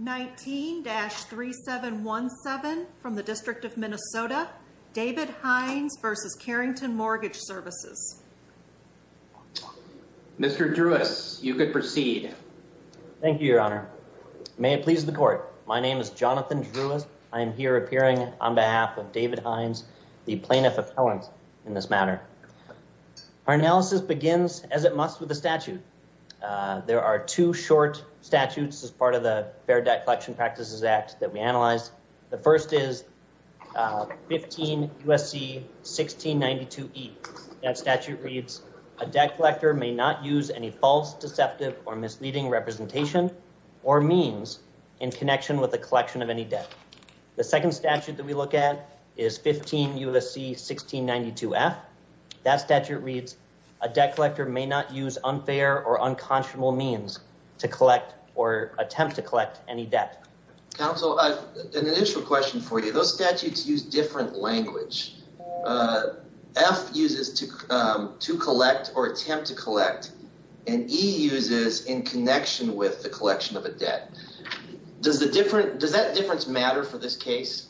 19-3717 from the District of Minnesota, David Heinz v. Carrington Mortgage Services. Mr. Drewis, you could proceed. Thank you, Your Honor. May it please the Court, my name is Jonathan Drewis. I am here appearing on behalf of David Heinz, the Plaintiff Appellant in this matter. Our analysis begins, as it must, with the statute. There are two short statutes as part of the Fair Debt Collection Practices Act that we analyzed. The first is 15 U.S.C. 1692E. That statute reads, The second statute that we look at is 15 U.S.C. 1692F. That statute reads, Counsel, I have an initial question for you. Those statutes use different language. F uses to collect or attempt to collect, and E uses in connection with the collection of a debt. Does that difference matter for this case?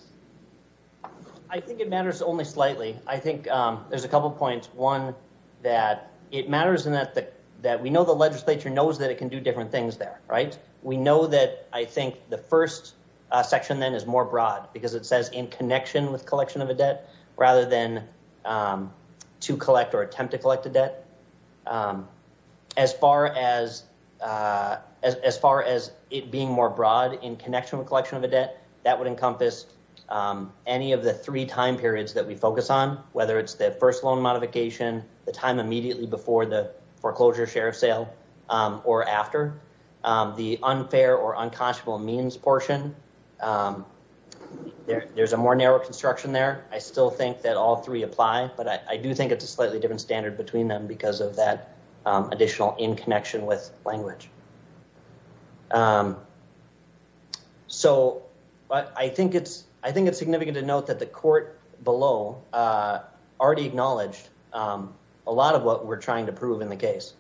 I think it matters only slightly. I think there's a couple points. One, that it matters in that we know the legislature knows that it can do different things there, right? We know that I think the first section then is more broad because it says in connection with collection of a debt, rather than to collect or attempt to collect a debt. As far as it being more broad in connection with collection of a debt, that would encompass any of the three time periods that we focus on, whether it's the first loan modification, the time immediately before the foreclosure share of sale, or after. The unfair or unconscionable means portion, there's a more narrow construction there. I still think that all three apply, but I do think it's a slightly different standard between them because of that additional in connection with language. I think it's significant to note that the court below already acknowledged a lot of what we're trying to prove in the case.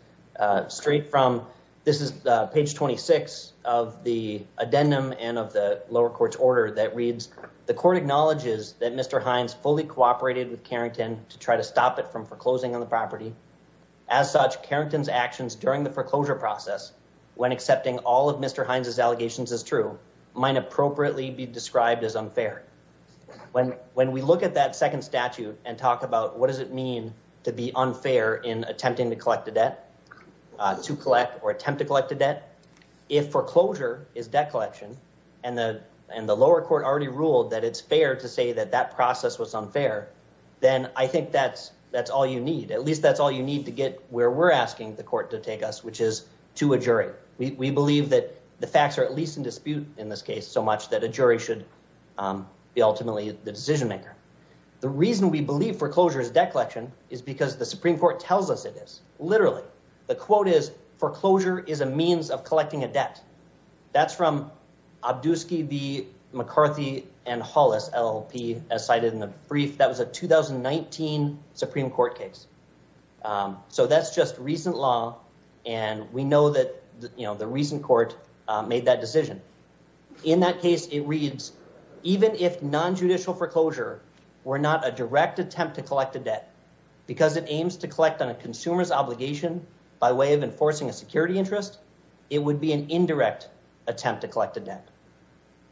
Straight from, this is page 26 of the addendum and of the lower court's order that reads, the court acknowledges that Mr. Hines fully cooperated with Carrington to try to stop it from foreclosing on the property. As such, Carrington's actions during the foreclosure process, when accepting all of Mr. Hines' allegations as true, might appropriately be described as unfair. When we look at that second statute and talk about what does it mean to be unfair in attempting to collect a debt, to collect or attempt to collect a debt, if foreclosure is debt collection, and the lower court already ruled that it's fair to say that that process was unfair, then I think that's all you need. At least that's all you need to get where we're asking the court to take us, which is to a jury. We believe that the facts are at least in dispute in this case so much that a jury should be ultimately the decision maker. The reason we believe foreclosure is debt collection is because the Supreme Court tells us it is. Literally. The quote is, foreclosure is a means of collecting a debt. That's from Obdusky v. McCarthy and Hollis, LLP, as cited in the brief. That was a 2019 Supreme Court case. So that's just recent law, and we know that the recent court made that decision. In that case, it reads, even if nonjudicial foreclosure were not a direct attempt to collect a debt, because it aims to collect on a consumer's obligation by way of enforcing a security interest, it would be an indirect attempt to collect a debt.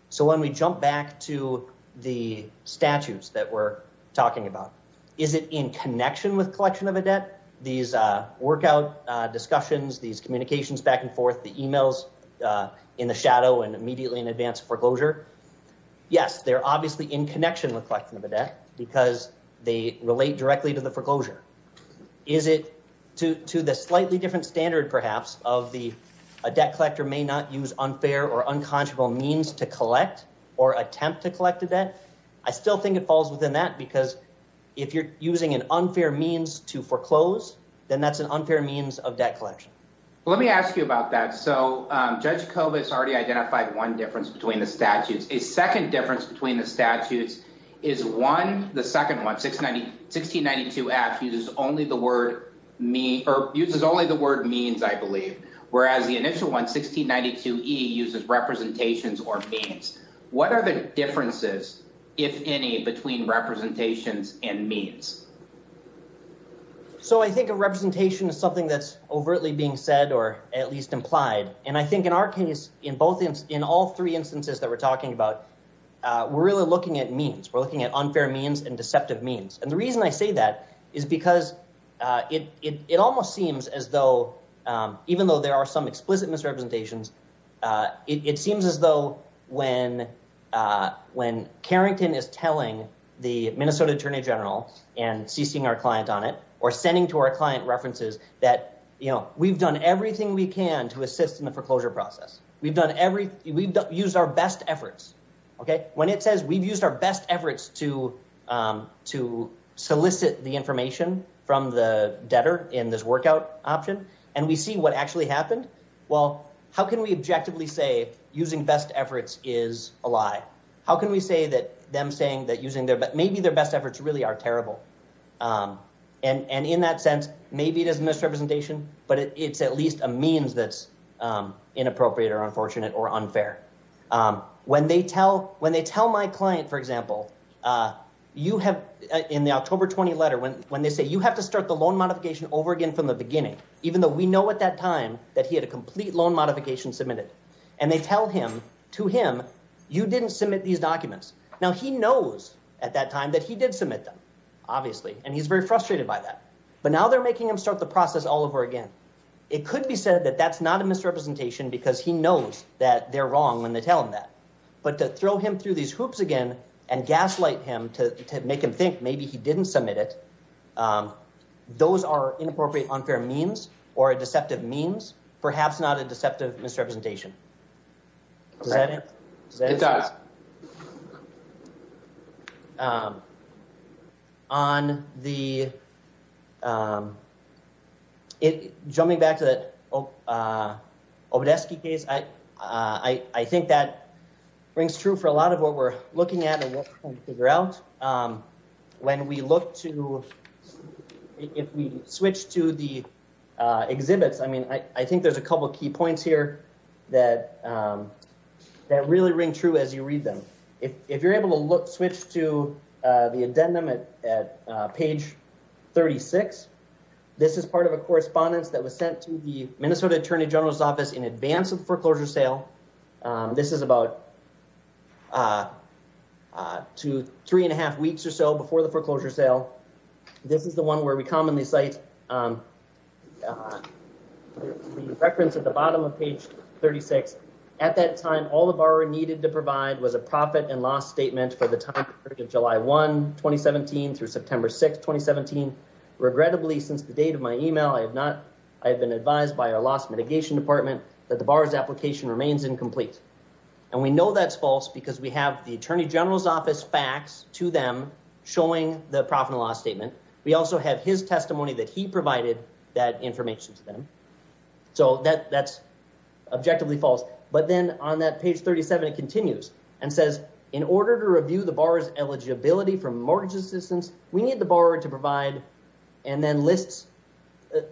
So when we jump back to the statutes that we're talking about, is it in connection with collection of a debt? These workout discussions, these communications back and forth, the emails in the shadow and immediately in advance foreclosure? Yes, they're obviously in connection with collection of a debt because they relate directly to the foreclosure. Is it to the slightly different standard, perhaps, of the debt collector may not use unfair or unconscionable means to collect or attempt to collect a debt? I still think it falls within that because if you're using an unfair means to foreclose, then that's an unfair means of debt collection. Let me ask you about that. So Judge Kovats already identified one difference between the statutes. A second difference between the statutes is one. The second one, 1692-F, uses only the word means, I believe, whereas the initial one, 1692-E, uses representations or means. What are the differences, if any, between representations and means? So I think a representation is something that's overtly being said or at least implied. And I think in our case, in all three instances that we're talking about, we're really looking at means. We're looking at unfair means and deceptive means. And the reason I say that is because it almost seems as though, even though there are some explicit misrepresentations, it seems as though when Carrington is telling the Minnesota Attorney General and ceasing our client on it or sending to our client references that, you know, we've done everything we can to assist in the foreclosure process. We've used our best efforts. Okay. When it says we've used our best efforts to solicit the information from the debtor in this workout option and we see what actually happened, well, how can we objectively say using best efforts is a lie? How can we say that them saying that using their best, maybe their best efforts really are terrible? And in that sense, maybe it is misrepresentation, but it's at least a means that's inappropriate or unfortunate or unfair. When they tell my client, for example, in the October 20 letter, when they say, you have to start the loan modification over again from the beginning, even though we know at that time that he had a complete loan modification submitted. And they tell him, to him, you didn't submit these documents. Now, he knows at that time that he did submit them, obviously, and he's very frustrated by that. But now they're making him start the process all over again. It could be said that that's not a misrepresentation because he knows that they're wrong when they tell him that. But to throw him through these hoops again and gaslight him to make him think maybe he didn't submit it, those are inappropriate, unfair means or a deceptive means, perhaps not a deceptive misrepresentation. Does that answer this? Yeah. On the... Jumping back to the Obedesky case, I think that rings true for a lot of what we're looking at and what we're trying to figure out. When we look to... If we switch to the exhibits, I mean, I think there's a couple of key points here that really ring true as you read them. If you're able to switch to the addendum at page 36, this is part of a correspondence that was sent to the Minnesota Attorney General's office in advance of foreclosure sale. This is about three and a half weeks or so before the foreclosure sale. This is the one where we commonly cite the reference at the bottom of page 36. At that time, all the borrower needed to provide was a profit and loss statement for the time period of July 1, 2017, through September 6, 2017. Regrettably, since the date of my email, I have not... I have been advised by our loss mitigation department that the borrower's application remains incomplete. And we know that's false because we have the Attorney General's office facts to them showing the profit and loss statement. We also have his testimony that he provided that information to them. So that's objectively false. But then on that page 37, it continues and says, in order to review the borrower's eligibility for mortgage assistance, we need the borrower to provide and then list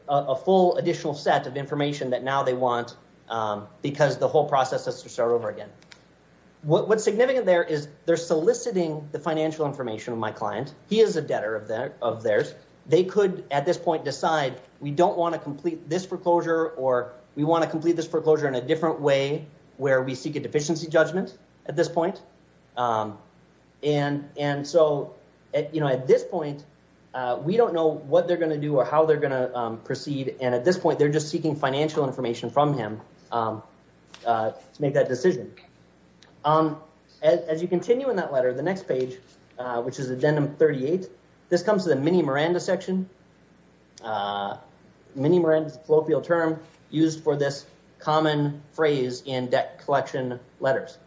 a full additional set of information that now they want because the whole process has to start over again. What's significant there is they're soliciting the financial information of my client. He is a debtor of theirs. They could, at this point, decide we don't want to complete this foreclosure or we want to complete this foreclosure in a different way where we seek a deficiency judgment at this point. And so at this point, we don't know what they're going to do or how they're going to proceed. And at this point, they're just seeking financial information from him to make that decision. As you continue in that letter, the next page, which is Agenda 38, this comes to the mini-Miranda section. Mini-Miranda is a colloquial term used for this common phrase in debt collection letters.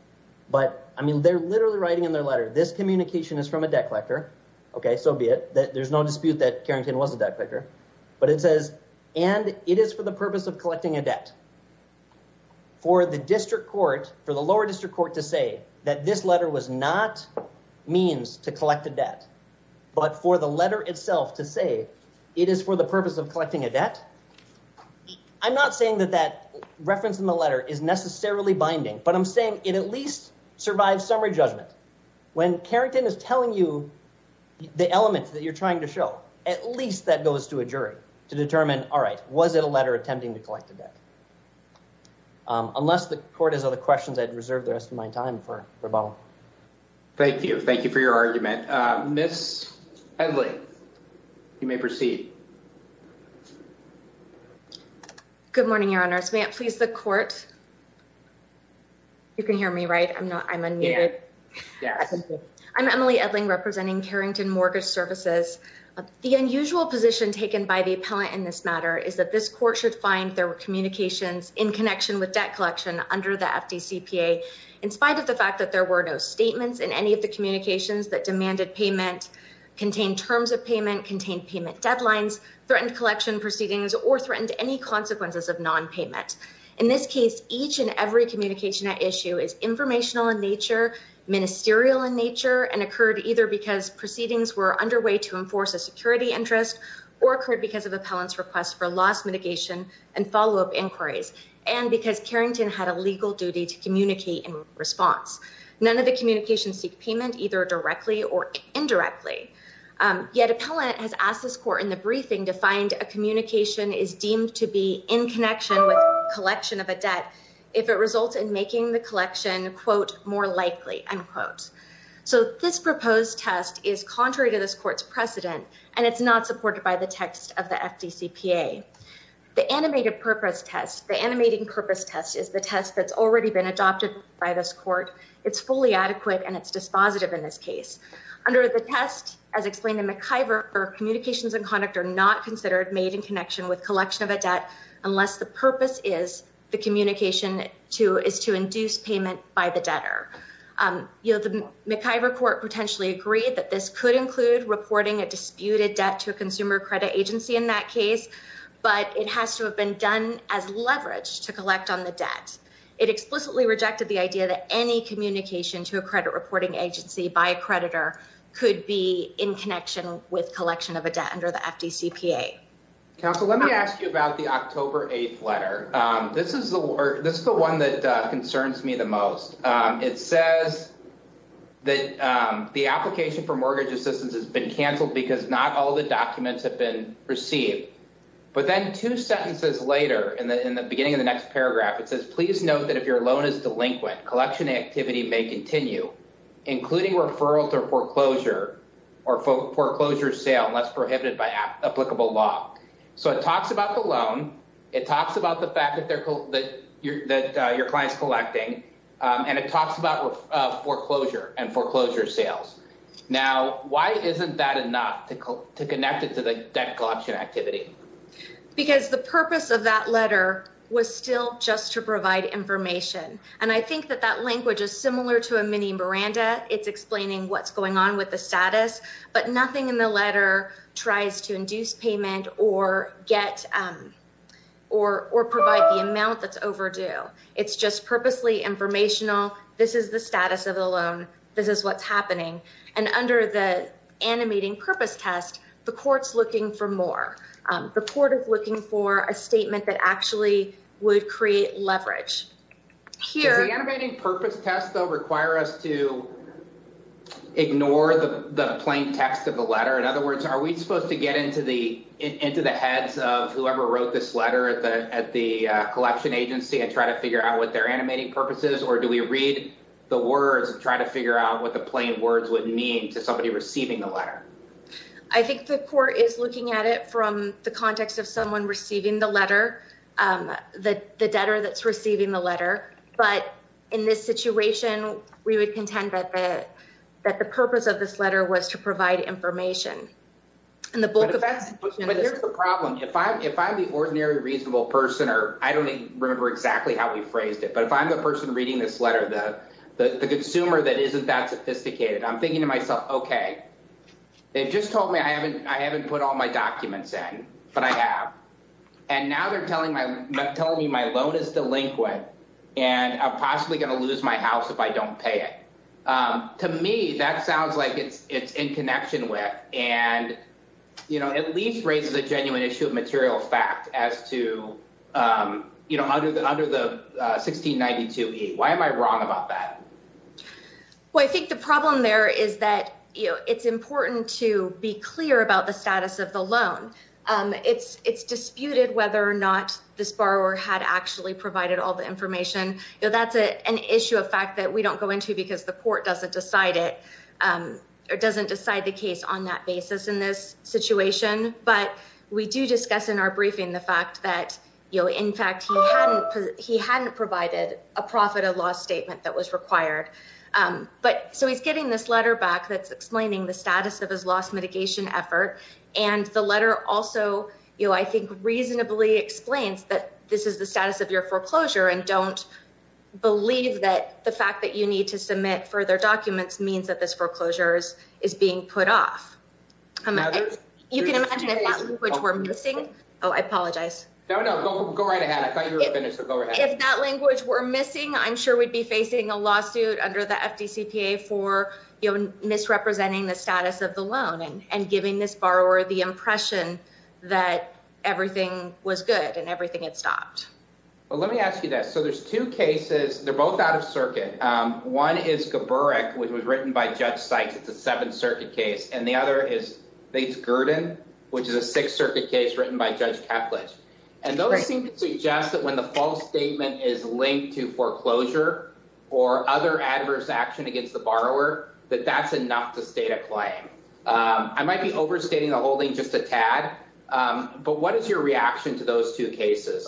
But, I mean, they're literally writing in their letter, this communication is from a debt collector. Okay, so be it. There's no dispute that Carrington was a debt collector. But it says, and it is for the purpose of collecting a debt. For the district court, for the lower district court to say that this letter was not means to collect a debt, but for the letter itself to say it is for the purpose of collecting a debt. I'm not saying that that reference in the letter is necessarily binding, but I'm saying it at least survives summary judgment. When Carrington is telling you the elements that you're trying to show, at least that goes to a jury to determine, all right, was it a letter attempting to collect a debt? Unless the court has other questions, I'd reserve the rest of my time for Bob. Thank you. Thank you for your argument. Ms. Edley, you may proceed. Good morning, Your Honors. May it please the court? You can hear me, right? I'm unmuted. I'm Emily Edley, representing Carrington Mortgage Services. The unusual position taken by the appellant in this matter is that this court should find there were communications in connection with debt collection under the FDCPA. In spite of the fact that there were no statements in any of the communications that demanded payment, contained terms of payment, contained payment deadlines, threatened collection proceedings, or threatened any consequences of nonpayment. In this case, each and every communication at issue is informational in nature, ministerial in nature, and occurred either because proceedings were underway to enforce a security interest, or occurred because of appellant's request for loss mitigation and follow-up inquiries, and because Carrington had a legal duty to communicate in response. None of the communications seek payment, either directly or indirectly. Yet appellant has asked this court in the briefing to find a communication is deemed to be in connection with collection of a debt if it results in making the collection, quote, more likely, unquote. So this proposed test is contrary to this court's precedent, and it's not supported by the text of the FDCPA. The animated purpose test, the animating purpose test, is the test that's already been adopted by this court. It's fully adequate, and it's dispositive in this case. Under the test, as explained in McIver, communications and conduct are not considered made in connection with collection of a debt unless the purpose is the communication is to induce payment by the debtor. You know, the McIver court potentially agreed that this could include reporting a disputed debt to a consumer credit agency in that case, but it has to have been done as leverage to collect on the debt. It explicitly rejected the idea that any communication to a credit reporting agency by a creditor could be in connection with collection of a debt under the FDCPA. Counsel, let me ask you about the October 8th letter. This is the this is the one that concerns me the most. It says that the application for mortgage assistance has been canceled because not all the documents have been received. But then two sentences later, in the beginning of the next paragraph, it says, please note that if your loan is delinquent, collection activity may continue, including referral to foreclosure or foreclosure sale unless prohibited by applicable law. So it talks about the loan. It talks about the fact that your client's collecting, and it talks about foreclosure and foreclosure sales. Now, why isn't that enough to connect it to the debt collection activity? Because the purpose of that letter was still just to provide information. And I think that that language is similar to a mini Miranda. It's explaining what's going on with the status, but nothing in the letter tries to induce payment or get or or provide the amount that's overdue. It's just purposely informational. This is the status of the loan. This is what's happening. And under the animating purpose test, the court's looking for more. The court is looking for a statement that actually would create leverage here. Require us to ignore the plain text of the letter. In other words, are we supposed to get into the into the heads of whoever wrote this letter at the at the collection agency and try to figure out what they're animating purposes? Or do we read the words and try to figure out what the plain words would mean to somebody receiving the letter? I think the court is looking at it from the context of someone receiving the letter. The debtor that's receiving the letter. But in this situation, we would contend that that the purpose of this letter was to provide information in the book. But here's the problem. If I'm if I'm the ordinary reasonable person or I don't remember exactly how we phrased it. But if I'm the person reading this letter, the consumer that isn't that sophisticated, I'm thinking to myself, OK. They've just told me I haven't I haven't put all my documents in. But I have. And now they're telling my telling me my loan is delinquent and I'm possibly going to lose my house if I don't pay it. To me, that sounds like it's it's in connection with and, you know, at least raises a genuine issue of material fact as to, you know, under the under the 1692. Why am I wrong about that? Well, I think the problem there is that it's important to be clear about the status of the loan. It's it's disputed whether or not this borrower had actually provided all the information. That's an issue of fact that we don't go into because the court doesn't decide it or doesn't decide the case on that basis in this situation. But we do discuss in our briefing the fact that, you know, in fact, he hadn't he hadn't provided a profit of loss statement that was required. But so he's getting this letter back that's explaining the status of his loss mitigation effort. And the letter also, you know, I think reasonably explains that this is the status of your foreclosure. And don't believe that the fact that you need to submit further documents means that this foreclosure is is being put off. You can imagine which we're missing. Oh, I apologize. No, no. Go right ahead. I thought you were finished. If that language were missing, I'm sure we'd be facing a lawsuit under the FTC for misrepresenting the status of the loan and giving this borrower the impression that everything was good and everything had stopped. Well, let me ask you that. So there's two cases. They're both out of circuit. One is the Berwick, which was written by Judge Sykes. It's a Seventh Circuit case. And the other is the Gurdon, which is a Sixth Circuit case written by Judge Kaplitz. And those seem to suggest that when the false statement is linked to foreclosure or other adverse action against the borrower, that that's enough to state a claim. I might be overstating the whole thing just a tad. But what is your reaction to those two cases?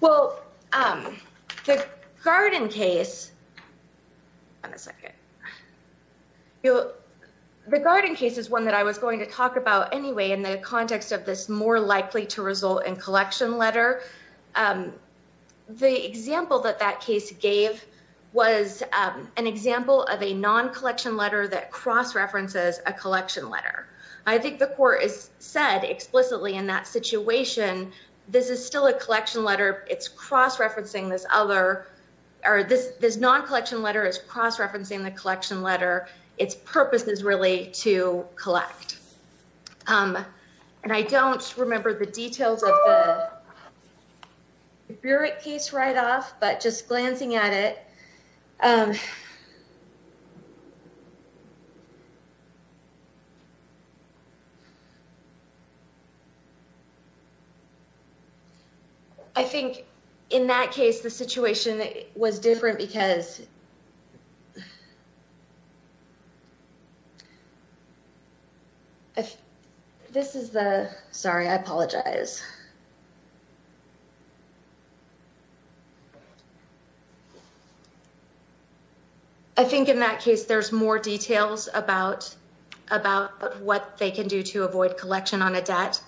Well, the Gurdon case. On a second. Regarding cases, one that I was going to talk about anyway, in the context of this more likely to result in collection letter. The example that that case gave was an example of a non collection letter that cross references a collection letter. I think the court has said explicitly in that situation, this is still a collection letter. It's cross referencing this other or this non collection letter is cross referencing the collection letter. Its purpose is really to collect. And I don't remember the details of the case right off. But just glancing at it. I think in that case, the situation was different because. This is the sorry, I apologize. I think in that case, there's more details about. I think in that case, there's more details about what they can do to avoid collection on a debt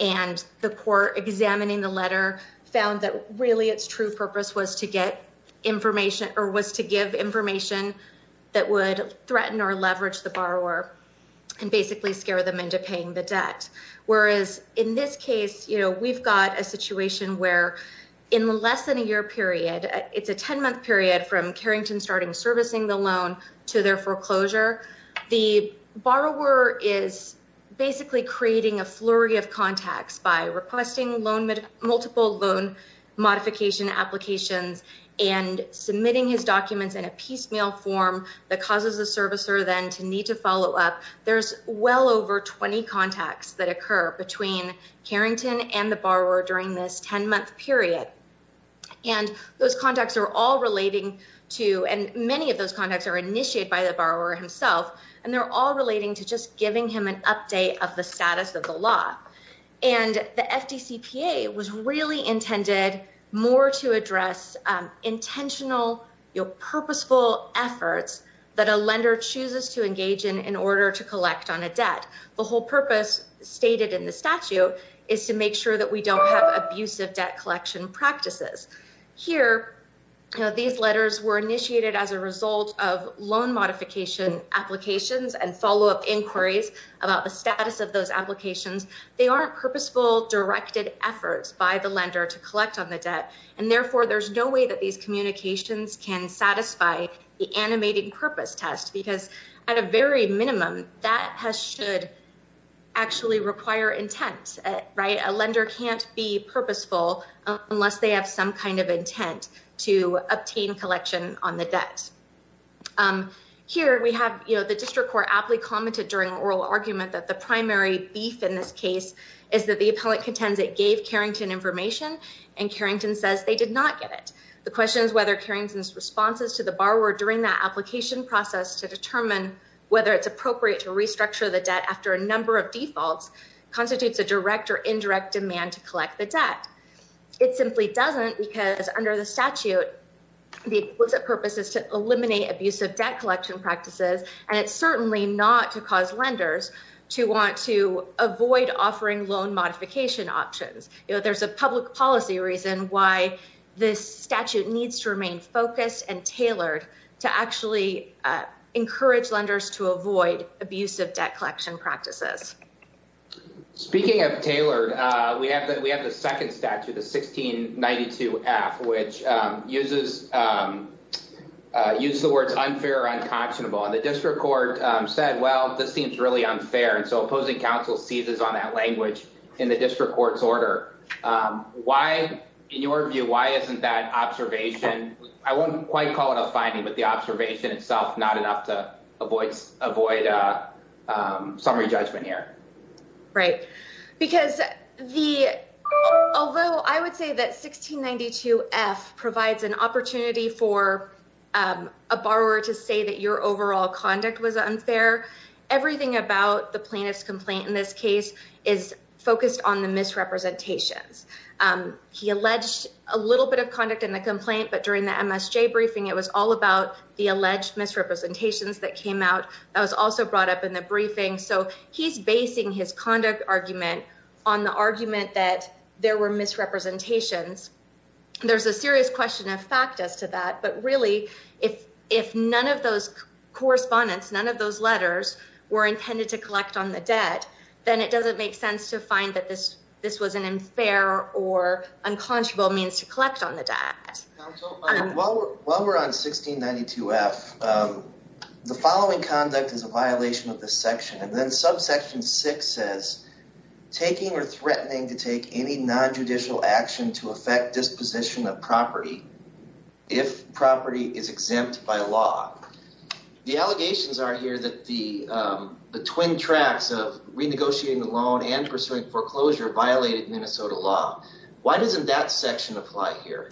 and the core examining the letter found that really it's true purpose was to get information or was to give information that would threaten or leverage the borrower. And basically scare them into paying the debt. Whereas in this case, we've got a situation where. In the less than a year period, it's a 10 month period from Carrington starting servicing the loan to their foreclosure. The borrower is basically creating a flurry of contacts by requesting loan multiple loan modification applications and submitting his documents in a piecemeal form. And the borrower is basically creating a flurry of contacts by requesting loan multiple loan modification applications and submitting his documents in a piecemeal form. The causes of service or then to need to follow up. There's well over 20 contacts that occur between Carrington and the borrower during this 10 month period. And those contacts are all relating to and many of those contacts are initiated by the borrower himself. And they're all relating to just giving him an update of the status of the law. And the FTC was really intended more to address intentional purposeful efforts that a lender chooses to engage in in order to collect on a debt. The whole purpose stated in the statute is to make sure that we don't have abusive debt collection practices here. These letters were initiated as a result of loan modification applications and follow up inquiries about the status of those applications. And they aren't purposeful directed efforts by the lender to collect on the debt. And therefore, there's no way that these communications can satisfy the animated purpose test. Because at a very minimum that has should actually require intent. Right. A lender can't be purposeful unless they have some kind of intent to obtain collection on the debt. Here we have, you know, the district court aptly commented during oral argument that the primary beef in this case is that the appellant contends it gave Carrington information and Carrington says they did not get it. The question is whether Carrington's responses to the borrower during that application process to determine whether it's appropriate to restructure the debt after a number of defaults constitutes a direct or indirect demand to collect the debt. It simply doesn't because under the statute, the purpose is to eliminate abusive debt collection practices. And it's certainly not to cause lenders to want to avoid offering loan modification options. There's a public policy reason why this statute needs to remain focused and tailored to actually encourage lenders to avoid abusive debt collection practices. Speaking of tailored, we have that we have the second statute, the 1692 F, which uses use the words unfair, unconscionable and the district court said, well, this seems really unfair. And so opposing counsel seizes on that language in the district court's order. Why, in your view, why isn't that observation? I won't quite call it a finding, but the observation itself, not enough to avoid avoid summary judgment here. Right. Because the although I would say that 1692 F provides an opportunity for a borrower to say that your overall conduct was unfair. Everything about the plaintiff's complaint in this case is focused on the misrepresentations. He alleged a little bit of conduct in the complaint, but during the briefing, it was all about the alleged misrepresentations that came out. I was also brought up in the briefing. So he's basing his conduct argument on the argument that there were misrepresentations. There's a serious question of fact as to that. But really, if if none of those correspondence, none of those letters were intended to collect on the debt, then it doesn't make sense to find that this this was an unfair or unconscionable means to collect on the debt. While we're on 1692 F, the following conduct is a violation of the section and then subsection six says taking or threatening to take any nonjudicial action to affect disposition of property if property is exempt by law. The allegations are here that the the twin tracks of renegotiating the loan and pursuing foreclosure violated Minnesota law. Why doesn't that section apply here?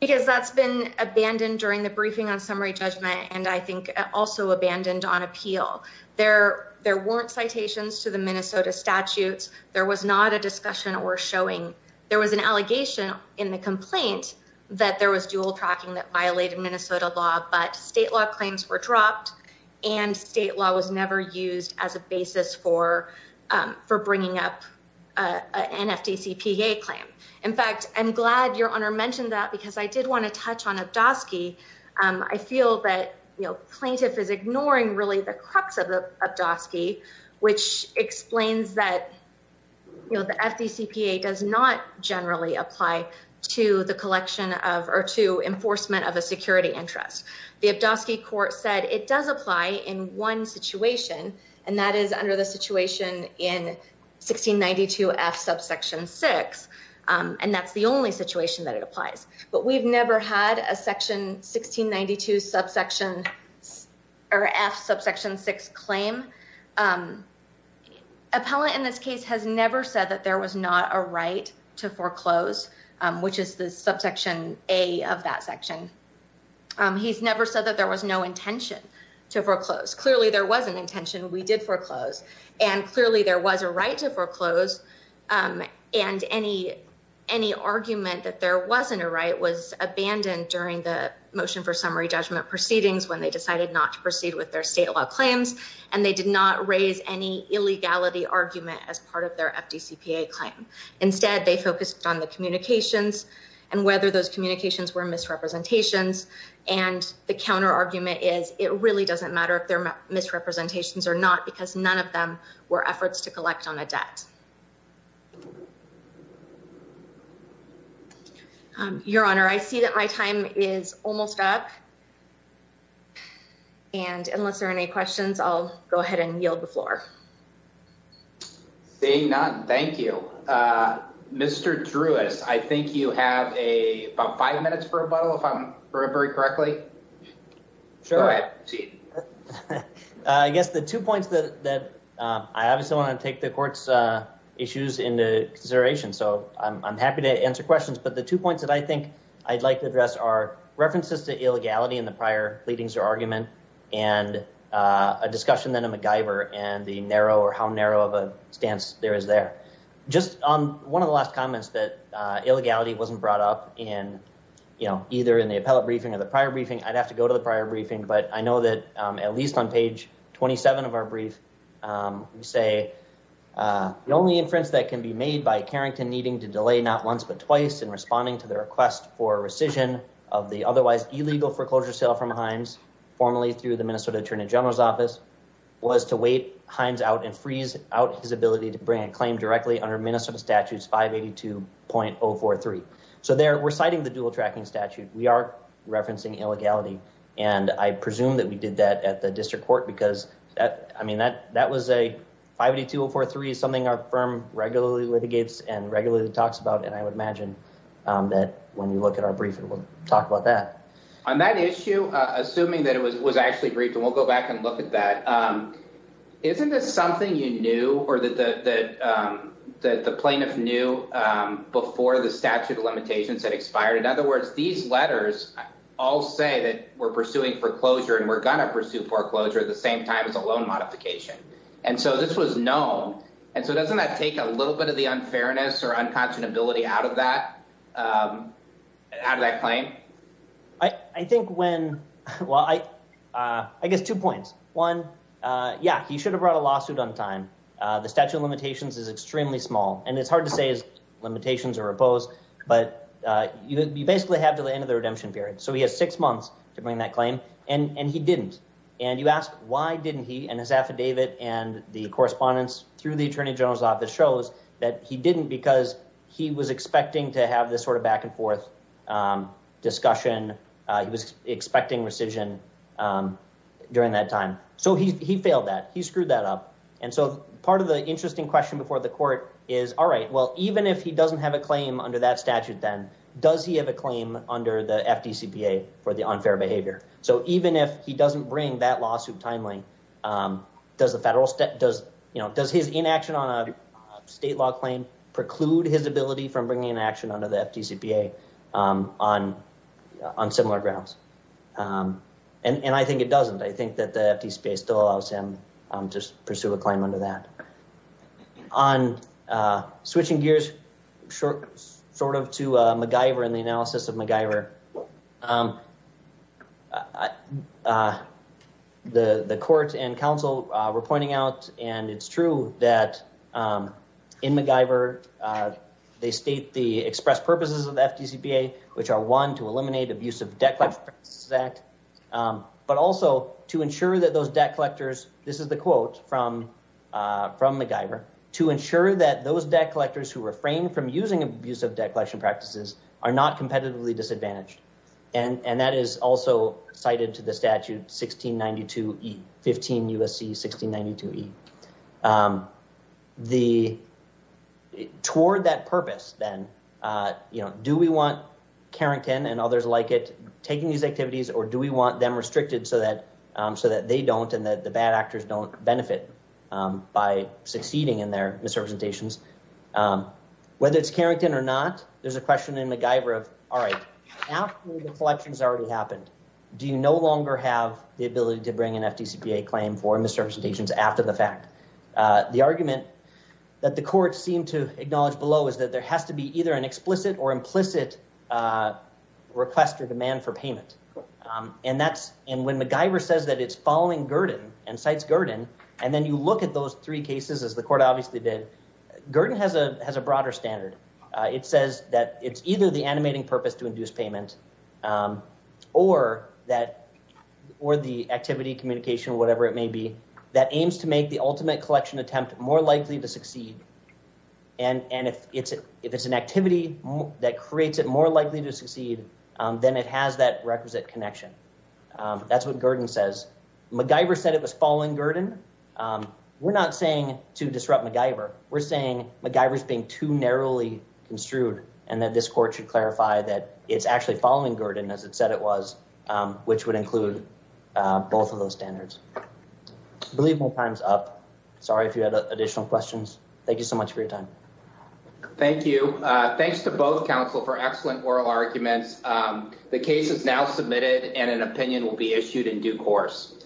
Because that's been abandoned during the briefing on summary judgment. And I think also abandoned on appeal there. There weren't citations to the Minnesota statutes. There was not a discussion or showing there was an allegation in the complaint that there was dual tracking that violated Minnesota law. But state law claims were dropped and state law was never used as a basis for for bringing up an FTCPA claim. In fact, I'm glad your honor mentioned that because I did want to touch on a task. I feel that, you know, plaintiff is ignoring really the crux of the of DOS key, which explains that. And the counter argument is it really doesn't matter if they're misrepresentations or not, because none of them were efforts to collect on the debt. Your honor, I see that my time is almost up. And unless there are any questions, I'll go ahead and yield the floor. Seeing none, thank you, Mr. Drewis, I think you have a five minutes for a bottle if I'm remembering correctly. Sure. I guess the two points that I obviously want to take the court's issues into consideration. So I'm happy to answer questions. But the two points that I think I'd like to address are references to illegality in the prior pleadings or argument and a discussion that a MacGyver and the narrow or how narrow of a stance there is there. Just on one of the last comments that illegality wasn't brought up in, you know, either in the appellate briefing or the prior briefing, I'd have to go to the prior briefing. But I know that at least on page 27 of our brief, we say the only inference that can be made by Carrington needing to delay not once but twice in responding to the request for rescission of the otherwise illegal foreclosure sale from Hines formally through the Minnesota Attorney General's office was to wait Hines out and freeze out his ability to bring a claim directly under Minnesota statutes 582.043. So there we're citing the dual tracking statute. We are referencing illegality. And I presume that we did that at the district court because I mean, that that was a 582.043 is something our firm regularly litigates and regularly talks about. And I would imagine that when you look at our briefing, we'll talk about that. On that issue, assuming that it was actually briefed, and we'll go back and look at that. Isn't this something you knew or that the plaintiff knew before the statute of limitations had expired? In other words, these letters all say that we're pursuing foreclosure and we're going to pursue foreclosure at the same time as a loan modification. And so this was known. And so doesn't that take a little bit of the unfairness or unconscionability out of that claim? I think when, well, I guess two points. One, yeah, he should have brought a lawsuit on time. The statute of limitations is extremely small. And it's hard to say his limitations are opposed. But you basically have to the end of the redemption period. So he has six months to bring that claim. And he didn't. And you ask why didn't he and his affidavit and the correspondence through the Attorney General's office shows that he didn't because he was expecting to have this sort of back and forth discussion. He was expecting rescission during that time. So he failed that. He screwed that up. And so part of the interesting question before the court is, all right, well, even if he doesn't have a claim under that statute, then does he have a claim under the FDCPA for the unfair behavior? So even if he doesn't bring that lawsuit timely, does his inaction on a state law claim preclude his ability from bringing an action under the FDCPA on similar grounds? And I think it doesn't. I think that the FDCPA still allows him to pursue a claim under that. On switching gears short sort of to MacGyver and the analysis of MacGyver. The courts and counsel were pointing out, and it's true that in MacGyver, they state the express purposes of the FDCPA, which are one, to eliminate abusive debt collection practices act, but also to ensure that those debt collectors. This is the quote from MacGyver, to ensure that those debt collectors who refrain from using abusive debt collection practices are not competitively disadvantaged. And that is also cited to the statute 1692E, 15 U.S.C. 1692E. The toward that purpose, then, you know, do we want Carrington and others like it taking these activities or do we want them restricted so that so that they don't and that the bad actors don't benefit by succeeding in their misrepresentations? Whether it's Carrington or not, there's a question in MacGyver of, all right, after the collections already happened, do you no longer have the ability to bring an FDCPA claim for misrepresentations after the fact? The argument that the court seemed to acknowledge below is that there has to be either an explicit or implicit request or demand for payment. And that's, and when MacGyver says that it's following Gurdon and cites Gurdon, and then you look at those three cases, as the court obviously did, Gurdon has a broader standard. It says that it's either the animating purpose to induce payment or that, or the activity, communication, whatever it may be, that aims to make the ultimate collection attempt more likely to succeed. And if it's an activity that creates it more likely to succeed, then it has that requisite connection. That's what Gurdon says. MacGyver said it was following Gurdon. We're not saying to disrupt MacGyver. We're saying MacGyver's being too narrowly construed and that this court should clarify that it's actually following Gurdon as it said it was, which would include both of those standards. I believe my time's up. Sorry if you had additional questions. Thank you so much for your time. Thank you. Thanks to both counsel for excellent oral arguments. The case is now submitted and an opinion will be issued in due course.